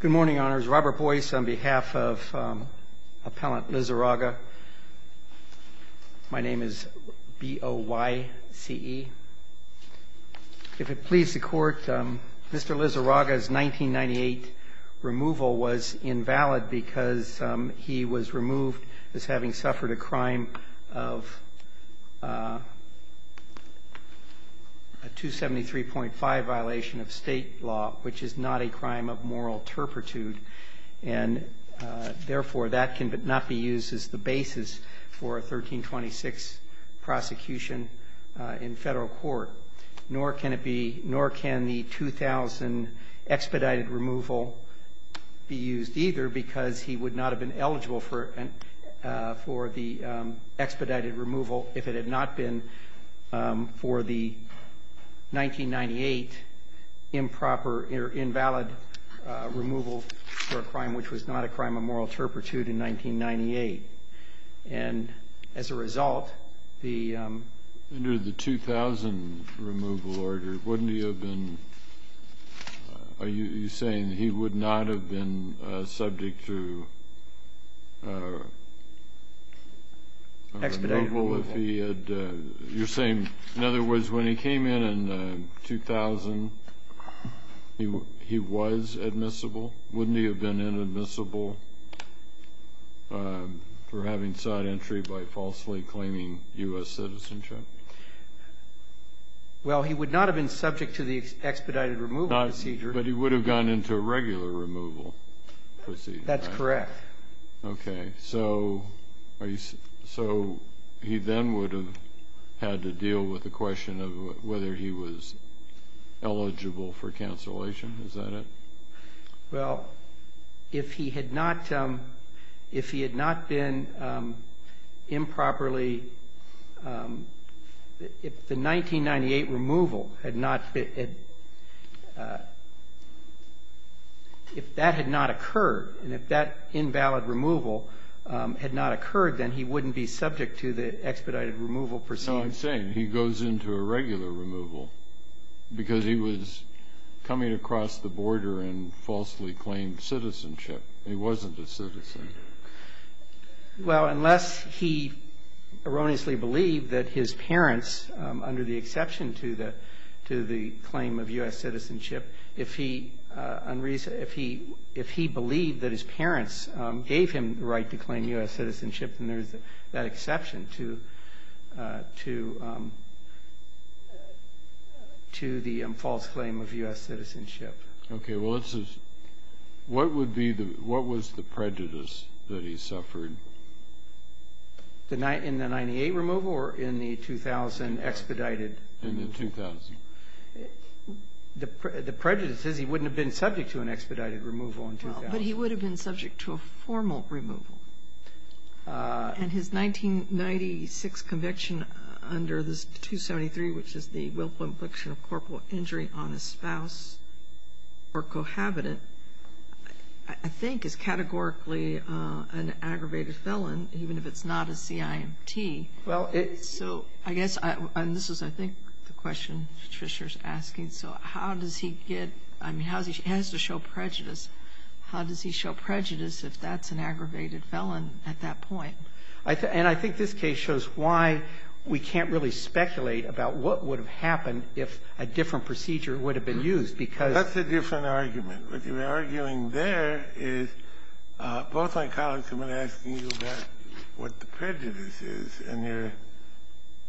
Good morning, Honors. Robert Boyce on behalf of Appellant Lizarraga. My name is B-O-Y-C-E. If it pleases the Court, Mr. Lizarraga's 1998 removal was invalid because he was removed as having suffered a crime of a 273.5 violation of state law, which is not a crime of moral turpitude. And therefore, that cannot be used as the basis for a 1326 prosecution in federal court. Nor can it be, nor can the 2000 expedited removal be used either because he would not have been eligible for the expedited removal if it had not been for the 1998 improper or invalid removal for a crime which was not a crime of moral turpitude in 1998. And as a result, the... Under the 2000 removal order, wouldn't he have been... Are you saying he would not have been subject to... Expedited removal. If he had... You're saying, in other words, when he came in in 2000, he was admissible? Wouldn't he have been inadmissible for having sought entry by falsely claiming U.S. citizenship? Well, he would not have been subject to the expedited removal procedure. But he would have gone into a regular removal procedure, right? That's correct. Okay. So he then would have had to deal with the question of whether he was eligible for cancellation. Is that it? Well, if he had not been improperly... If the 1998 removal had not been... If that had not occurred, and if that invalid removal had not occurred, then he wouldn't be subject to the expedited removal procedure. So I'm saying he goes into a regular removal because he was coming across the border and falsely claimed citizenship. He wasn't a citizen. Well, unless he erroneously believed that his parents, under the exception to the claim of U.S. citizenship, if he believed that his parents gave him the right to claim U.S. citizenship, then there's that exception to the false claim of U.S. citizenship. Okay. Well, let's just... What would be the... What was the prejudice that he suffered? In the 98 removal or in the 2000 expedited? In the 2000. The prejudice is he wouldn't have been subject to an expedited removal in 2000. But he would have been subject to a formal removal. And his 1996 conviction under this 273, which is the willful infliction of corporal injury on a spouse or cohabitant, I think is categorically an aggravated felon, even if it's not a CIMT. So I guess, and this is I think the question Patricia is asking, so how does he get, I mean, how does he show prejudice? How does he show prejudice if that's an aggravated felon at that point? And I think this case shows why we can't really speculate about what would have happened if a different procedure would have been used, because... Well, I've been asking you about what the prejudice is, and you're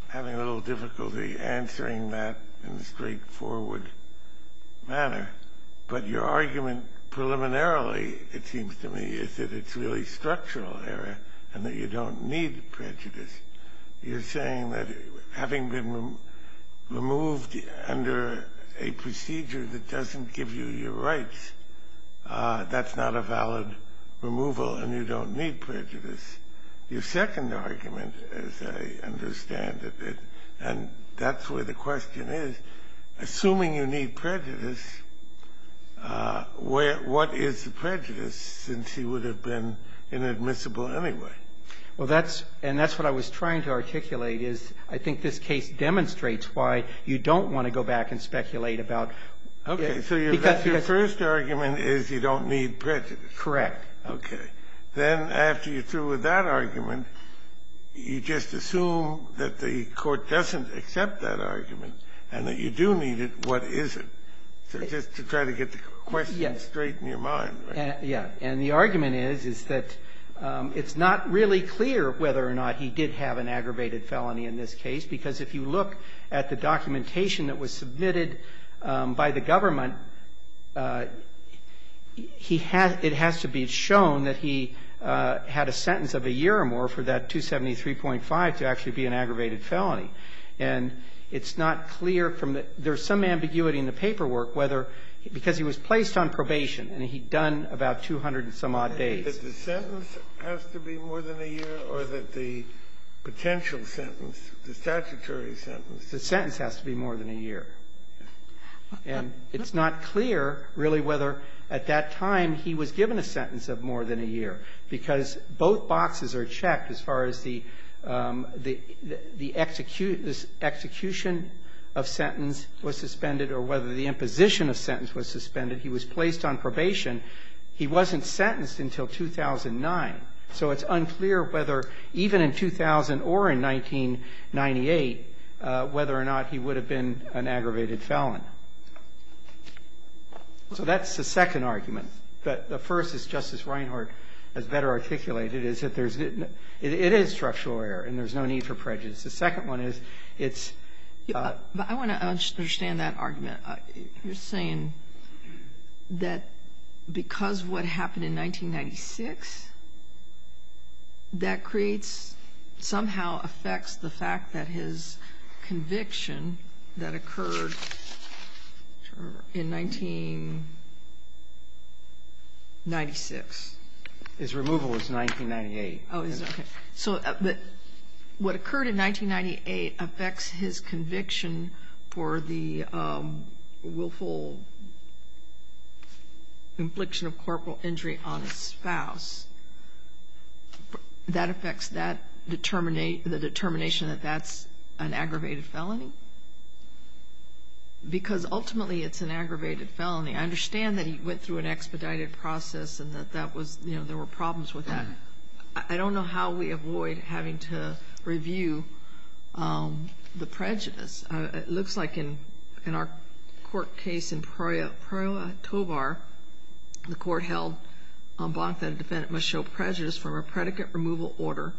having a little difficulty answering that in a straightforward manner. But your argument preliminarily, it seems to me, is that it's really structural error and that you don't need prejudice. You're saying that having been removed under a procedure that doesn't give you your rights, that's not a valid removal and you don't need prejudice. Your second argument, as I understand it, and that's where the question is, assuming you need prejudice, what is the prejudice since he would have been inadmissible anyway? Well, that's, and that's what I was trying to articulate, is I think this case demonstrates why you don't want to go back and speculate about... Okay, so your first argument is you don't need prejudice. Correct. Okay. Then after you're through with that argument, you just assume that the court doesn't accept that argument and that you do need it, what is it? So just to try to get the question straight in your mind. Yeah. And the argument is, is that it's not really clear whether or not he did have an aggravated felony in this case, because if you look at the documentation that was submitted by the government, it has to be shown that he had a sentence of a year or more for that 273.5 to actually be an aggravated felony. And it's not clear from the, there's some ambiguity in the paperwork whether, because he was placed on probation and he'd done about 200 and some odd days. That the sentence has to be more than a year or that the potential sentence, the statutory sentence... The sentence has to be more than a year. And it's not clear really whether at that time he was given a sentence of more than a year, because both boxes are checked as far as the execution of sentence was suspended or whether the imposition of sentence was suspended. He was placed on probation. He wasn't sentenced until 2009. So it's unclear whether even in 2000 or in 1998 whether or not he would have been an aggravated felon. So that's the second argument. But the first, as Justice Reinhart has better articulated, is that there's, it is structural error and there's no need for prejudice. The second one is it's... You're saying that because what happened in 1996, that creates, somehow affects the fact that his conviction that occurred in 1996... His removal was 1998. So what occurred in 1998 affects his conviction for the willful infliction of corporal injury on his spouse. That affects the determination that that's an aggravated felony. Because ultimately it's an aggravated felony. I understand that he went through an expedited process and that that was, you know, there were problems with that. I don't know how we avoid having to review the prejudice. It looks like in our court case in Proyotovar, the court held on Blanc that a defendant must show prejudice from a predicate removal order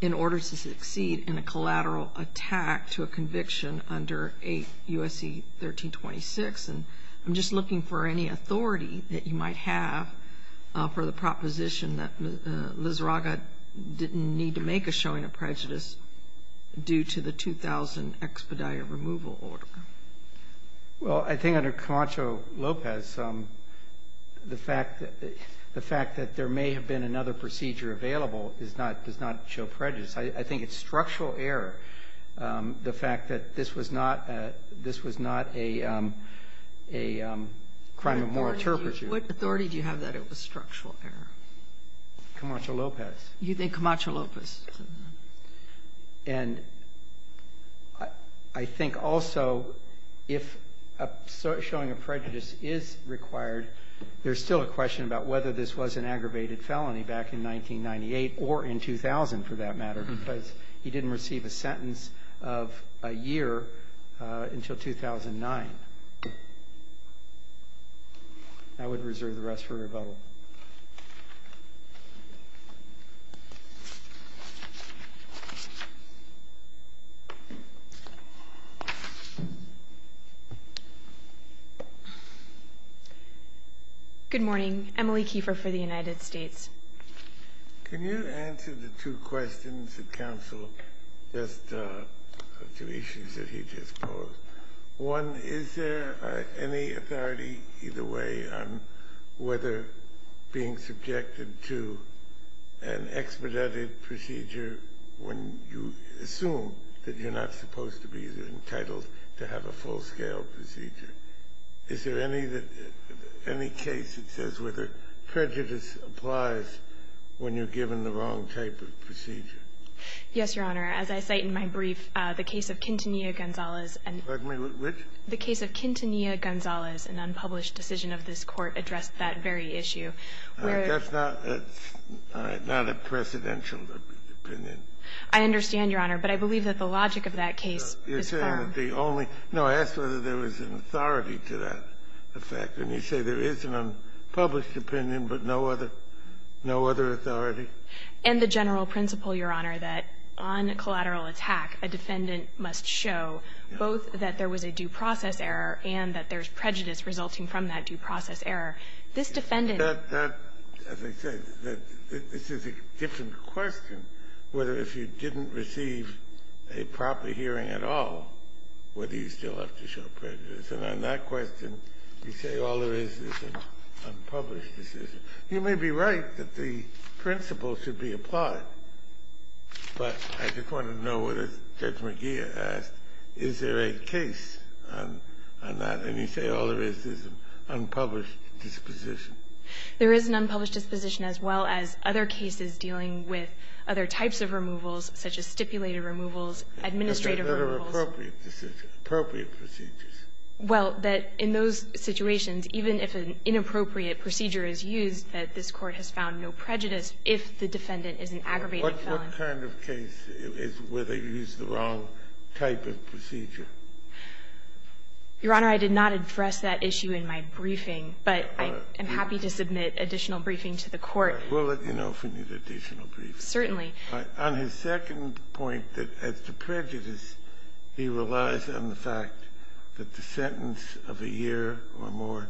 in order to succeed in a collateral attack to a conviction under 8 U.S.C. 1326. And I'm just looking for any authority that you might have for the proposition that Lizarraga didn't need to make a showing of prejudice due to the 2000 expedited removal order. Well, I think under Camacho-Lopez, the fact that there may have been another procedure available does not show prejudice. I think it's structural error, the fact that this was not a crime of moral turpitude. What authority do you have that it was structural error? Camacho-Lopez. You think Camacho-Lopez. And I think also if a showing of prejudice is required, there's still a question about whether this was an aggravated felony back in 1998 or in 2000, for that matter, because he didn't receive a sentence of a year until 2009. I would reserve the rest for rebuttal. Good morning. Emily Kiefer for the United States. Can you answer the two questions that counsel just two issues that he just posed? One, is there any authority either way on whether being subjected to an expedited procedure when you assume that you're not supposed to be entitled to have a full-scale procedure? Is there any case that says whether prejudice applies when you're given the wrong type of procedure? Yes, Your Honor. As I cite in my brief, the case of Quintanilla-Gonzalez and unpublished decision of this Court addressed that very issue. That's not a presidential opinion. I understand, Your Honor. But I believe that the logic of that case is firm. You're saying that the only no, I asked whether there was an authority to that effect. And you say there is an unpublished opinion, but no other authority? And the general principle, Your Honor, that on a collateral attack, a defendant must show both that there was a due process error and that there's prejudice resulting from that due process error. This defendant That, as I said, this is a different question, whether if you didn't receive a proper hearing at all, whether you still have to show prejudice. And on that question, you say all there is is an unpublished decision. You may be right that the principle should be applied, but I just wanted to know whether Judge McGeer asked, is there a case on that? And you say all there is is an unpublished disposition. There is an unpublished disposition as well as other cases dealing with other types of removals, such as stipulated removals, administrative removals. But there are appropriate decisions, appropriate procedures. Well, that in those situations, even if an inappropriate procedure is used, that this Court has found no prejudice if the defendant is an aggravated felon. What kind of case is where they use the wrong type of procedure? Your Honor, I did not address that issue in my briefing, but I am happy to submit additional briefing to the Court. We'll let you know if we need additional briefing. Certainly. On his second point, that as to prejudice, he relies on the fact that the sentence of a year or more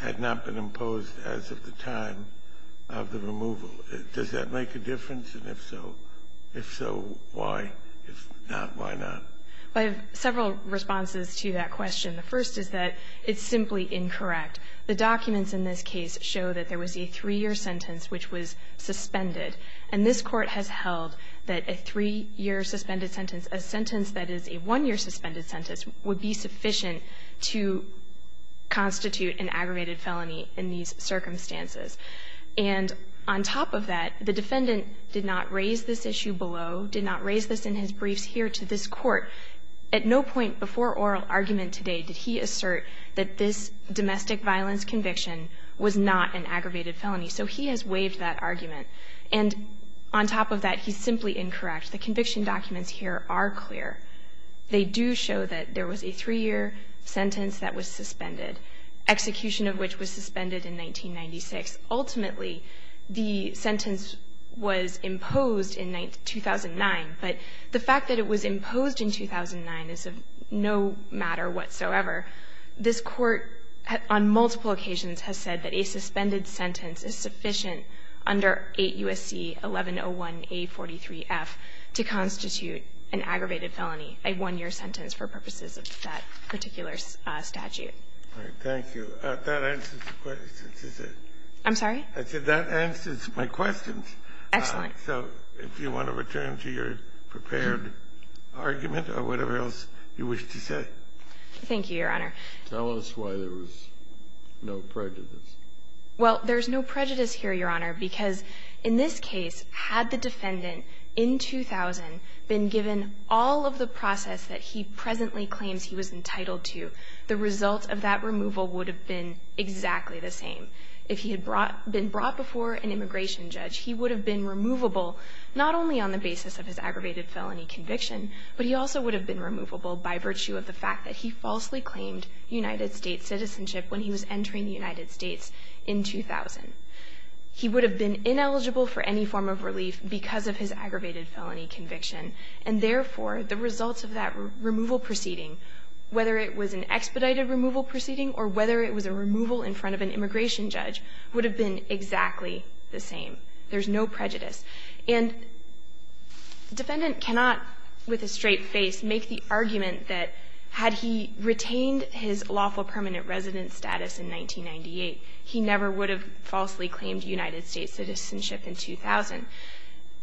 had not been imposed as of the time of the removal. Does that make a difference? And if so, why? If not, why not? I have several responses to that question. The first is that it's simply incorrect. The documents in this case show that there was a three-year sentence which was suspended. And this Court has held that a three-year suspended sentence, a sentence that is a one-year suspended sentence, would be sufficient to constitute an aggravated felony in these circumstances. And on top of that, the defendant did not raise this issue below, did not raise this in his briefs here to this Court. At no point before oral argument today did he assert that this domestic violence conviction was not an aggravated felony. So he has waived that argument. And on top of that, he's simply incorrect. The conviction documents here are clear. They do show that there was a three-year sentence that was suspended, execution of which was suspended in 1996. Ultimately, the sentence was imposed in 2009. But the fact that it was imposed in 2009 is of no matter whatsoever. This Court, on multiple occasions, has said that a suspended sentence is sufficient under 8 U.S.C. 1101a43f to constitute an aggravated felony, a one-year sentence for purposes of that particular statute. Thank you. That answers the questions, is it? I'm sorry? I said that answers my questions. Excellent. So if you want to return to your prepared argument or whatever else you wish to say. Thank you, Your Honor. Tell us why there was no prejudice. Well, there's no prejudice here, Your Honor, because in this case, had the defendant in 2000 been given all of the process that he presently claims he was entitled to, the result of that removal would have been exactly the same. If he had brought been brought before an immigration judge, he would have been removable not only on the basis of his aggravated felony conviction, but he also would have been removable by virtue of the fact that he falsely claimed United States citizenship when he was entering the United States in 2000. He would have been ineligible for any form of relief because of his aggravated felony conviction. And therefore, the results of that removal proceeding, whether it was an expedited removal proceeding or whether it was a removal in front of an immigration judge, would have been exactly the same. There's no prejudice. And the defendant cannot, with a straight face, make the argument that had he retained his lawful permanent resident status in 1998, he never would have falsely claimed United States citizenship in 2000.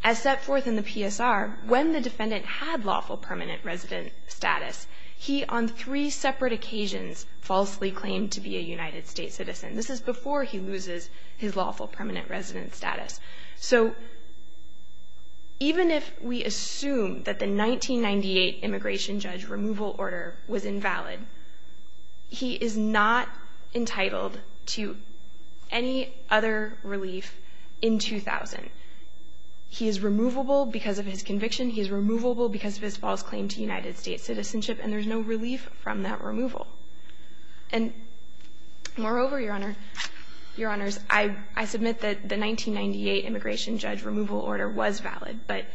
As set forth in the PSR, when the defendant had lawful permanent resident status, he on three separate occasions falsely claimed to be a United States citizen. This is before he loses his lawful permanent resident status. So even if we assume that the 1998 immigration judge removal order was invalid, he is not entitled to any other relief in 2000. He is removable because of his conviction. He is removable because of his false claim to United States citizenship. And there's no relief from that removal. And moreover, Your Honor, Your Honors, I submit that the 1998 immigration judge removal order was valid, but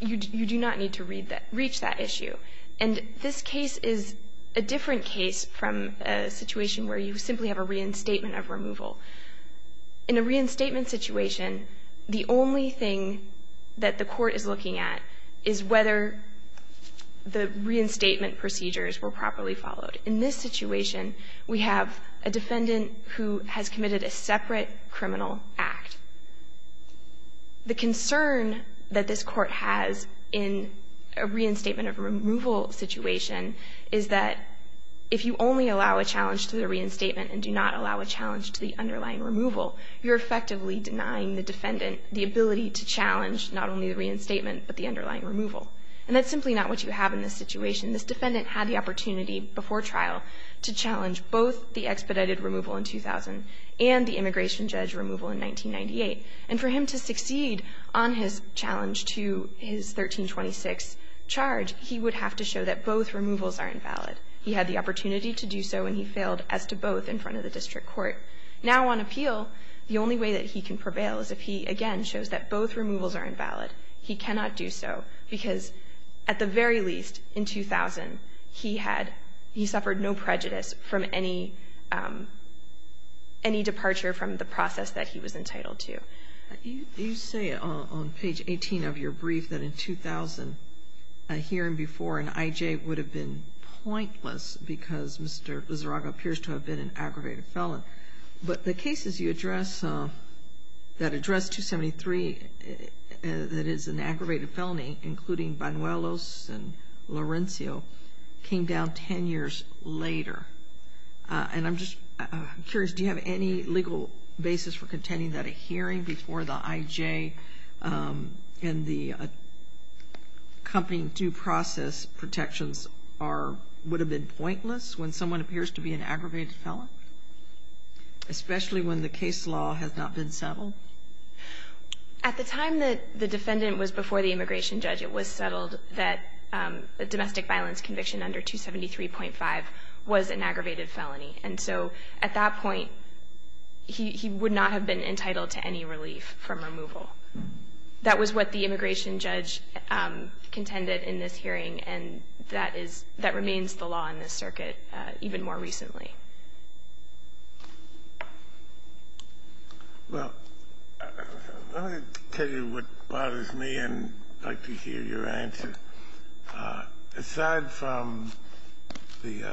you do not need to read that, reach that issue. And this case is a different case from a situation where you simply have a reinstatement of removal. In a reinstatement situation, the only thing that the Court is looking at is whether the reinstatement procedures were properly followed. In this situation, we have a defendant who has committed a separate criminal act. The concern that this Court has in a reinstatement of removal situation is that if you only allow a challenge to the reinstatement and do not allow a challenge to the underlying removal, you're effectively denying the defendant the ability to challenge not only the reinstatement, but the underlying removal. And that's simply not what you have in this situation. This defendant had the opportunity before trial to challenge both the expedited removal in 2000 and the immigration judge removal in 1998. And for him to succeed on his challenge to his 1326 charge, he would have to show that both removals are invalid. He had the opportunity to do so, and he failed as to both in front of the district court. Now on appeal, the only way that he can prevail is if he, again, shows that both removals are invalid. He cannot do so, because at the very least, in 2000, he had he suffered no prejudice from any departure from the process that he was entitled to. You say on page 18 of your brief that in 2000, a hearing before an I.J. would have been pointless because Mr. Lizarraga appears to have been an aggravated felon. But the cases you address, that address 273, that is an aggravated felony, including Banuelos and Laurencio, came down 10 years later. And I'm just curious, do you have any legal basis for contending that a hearing before the I.J. and the accompanying due process protections are, would have been pointless when someone appears to be an aggravated felon, especially when the case law has not been settled? At the time that the defendant was before the immigration judge, it was settled that a domestic violence conviction under 273.5 was an aggravated felony. And so at that point, he would not have been entitled to any relief from removal. That was what the immigration judge contended in this hearing, and that is that remains the law in this circuit even more recently. Well, I'm going to tell you what bothers me and I'd like to hear your answer. Aside from the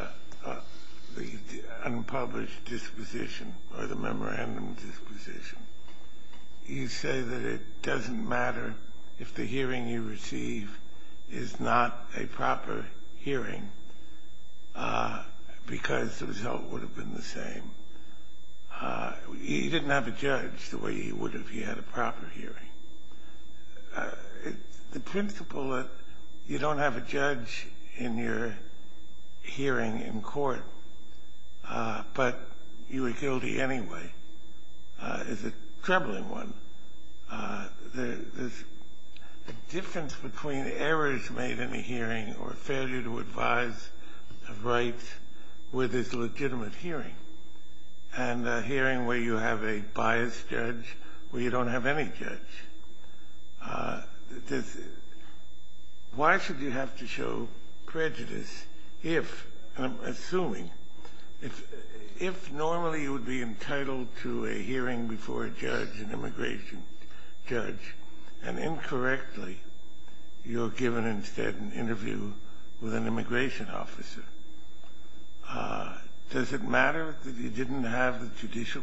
unpublished disposition or the memorandum disposition, you say that it doesn't matter if the hearing you receive is not a proper hearing because the result would have been the same. He didn't have a judge the way he would if he had a proper hearing. The principle that you don't have a judge in your hearing in court, but you were guilty anyway, is a troubling one. There's a difference between errors made in a hearing or failure to advise of rights with this legitimate hearing, and a hearing where you have a biased judge where you don't have any judge. Why should you have to show prejudice if, and I'm assuming, if normally you would be entitled to a hearing before a judge, an immigration judge, and incorrectly you're given instead an interview with an immigration officer, does it matter that you don't have a judge?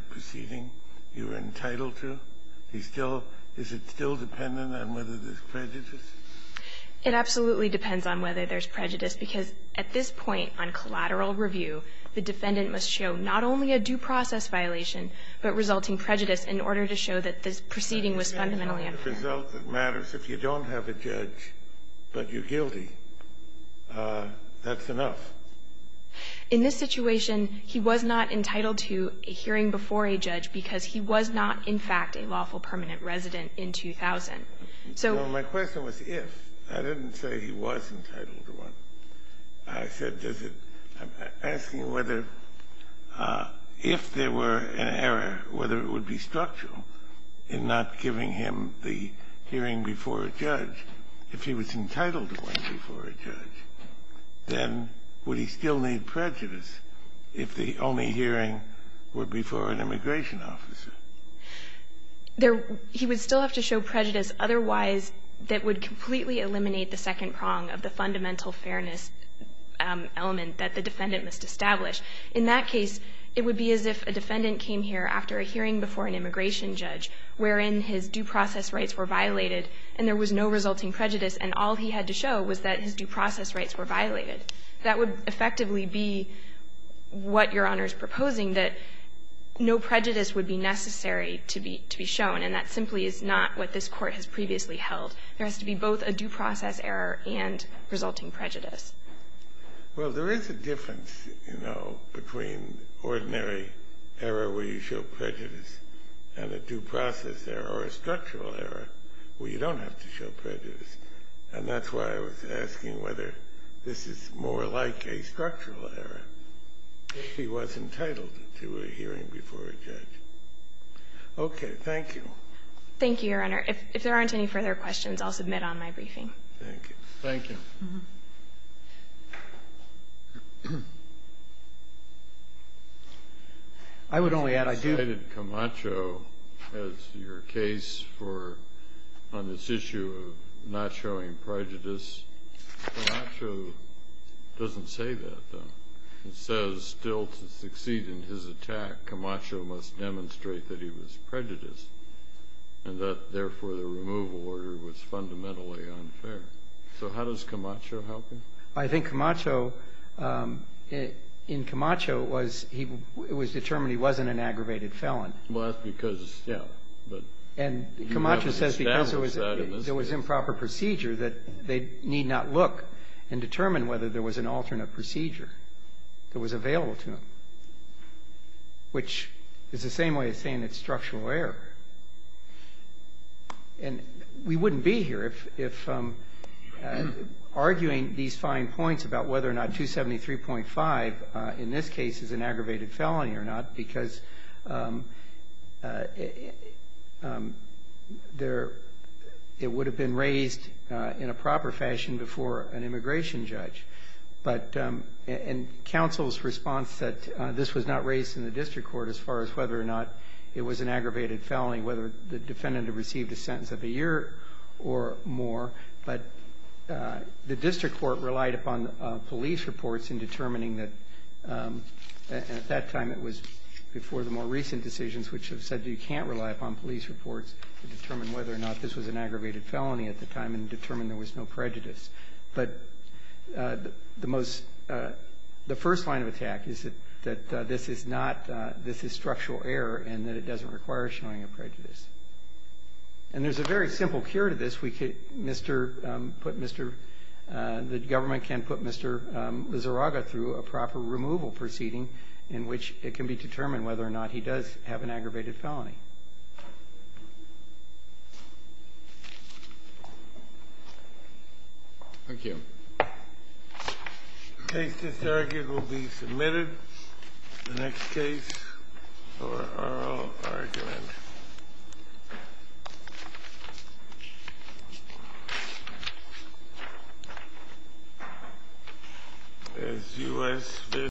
Is it still dependent on whether there's prejudice? It absolutely depends on whether there's prejudice, because at this point on collateral review, the defendant must show not only a due process violation, but resulting prejudice in order to show that this proceeding was fundamentally unfair. If the result that matters, if you don't have a judge but you're guilty, that's enough. In this situation, he was not entitled to a hearing before a judge because he was not in fact a lawful permanent resident in 2000. So my question was if. I didn't say he was entitled to one. I said does it ask you whether if there were an error, whether it would be structural in not giving him the hearing before a judge, if he was entitled to one before a judge, then would he still need prejudice if the only hearing were before an immigration officer? There he would still have to show prejudice. Otherwise, that would completely eliminate the second prong of the fundamental fairness element that the defendant must establish. In that case, it would be as if a defendant came here after a hearing before an immigration judge wherein his due process rights were violated and there was no resulting prejudice, and all he had to show was that his due process rights were violated. That would effectively be what Your Honor's proposing, that no prejudice would be necessary to be shown, and that simply is not what this Court has previously held. There has to be both a due process error and resulting prejudice. Well, there is a difference, you know, between ordinary error where you show prejudice and a due process error or a structural error where you don't have to show prejudice. And that's why I was asking whether this is more like a structural error. If he was entitled to a hearing before a judge. Okay. Thank you. Thank you, Your Honor. If there aren't any further questions, I'll submit on my briefing. Thank you. Thank you. I would only add I do. You cited Camacho as your case for on this issue of not showing prejudice. Camacho doesn't say that, though. It says still to succeed in his attack, Camacho must demonstrate that he was prejudiced and that, therefore, the removal order was fundamentally unfair. So how does Camacho help you? I think Camacho, in Camacho, it was determined he wasn't an aggravated felon. Well, that's because, you know. And Camacho says because there was improper procedure that they need not look and determine whether there was an alternate procedure that was available to him, which is the same way as saying it's structural error. And we wouldn't be here if arguing these fine points about whether or not 273.5 in this case is an aggravated felony or not, because it would have been raised in a proper fashion before an immigration judge. But in counsel's response that this was not raised in the district court as far as whether or not it was an aggravated felony, whether the defendant had received a sentence of a year or more, but the district court relied upon police reports in determining that. At that time, it was before the more recent decisions, which have said you can't rely upon police reports to determine whether or not this was an aggravated felony at the time and determine there was no prejudice. But the most the first line of attack is that this is not, this is structural error and that it doesn't require showing of prejudice. And there's a very simple cure to this. We could put Mr. The government can put Mr. Zoraga through a proper removal proceeding in which it can be determined whether or not he does have an aggravated felony. Thank you. This argument will be submitted in the next case for oral argument. Thank you.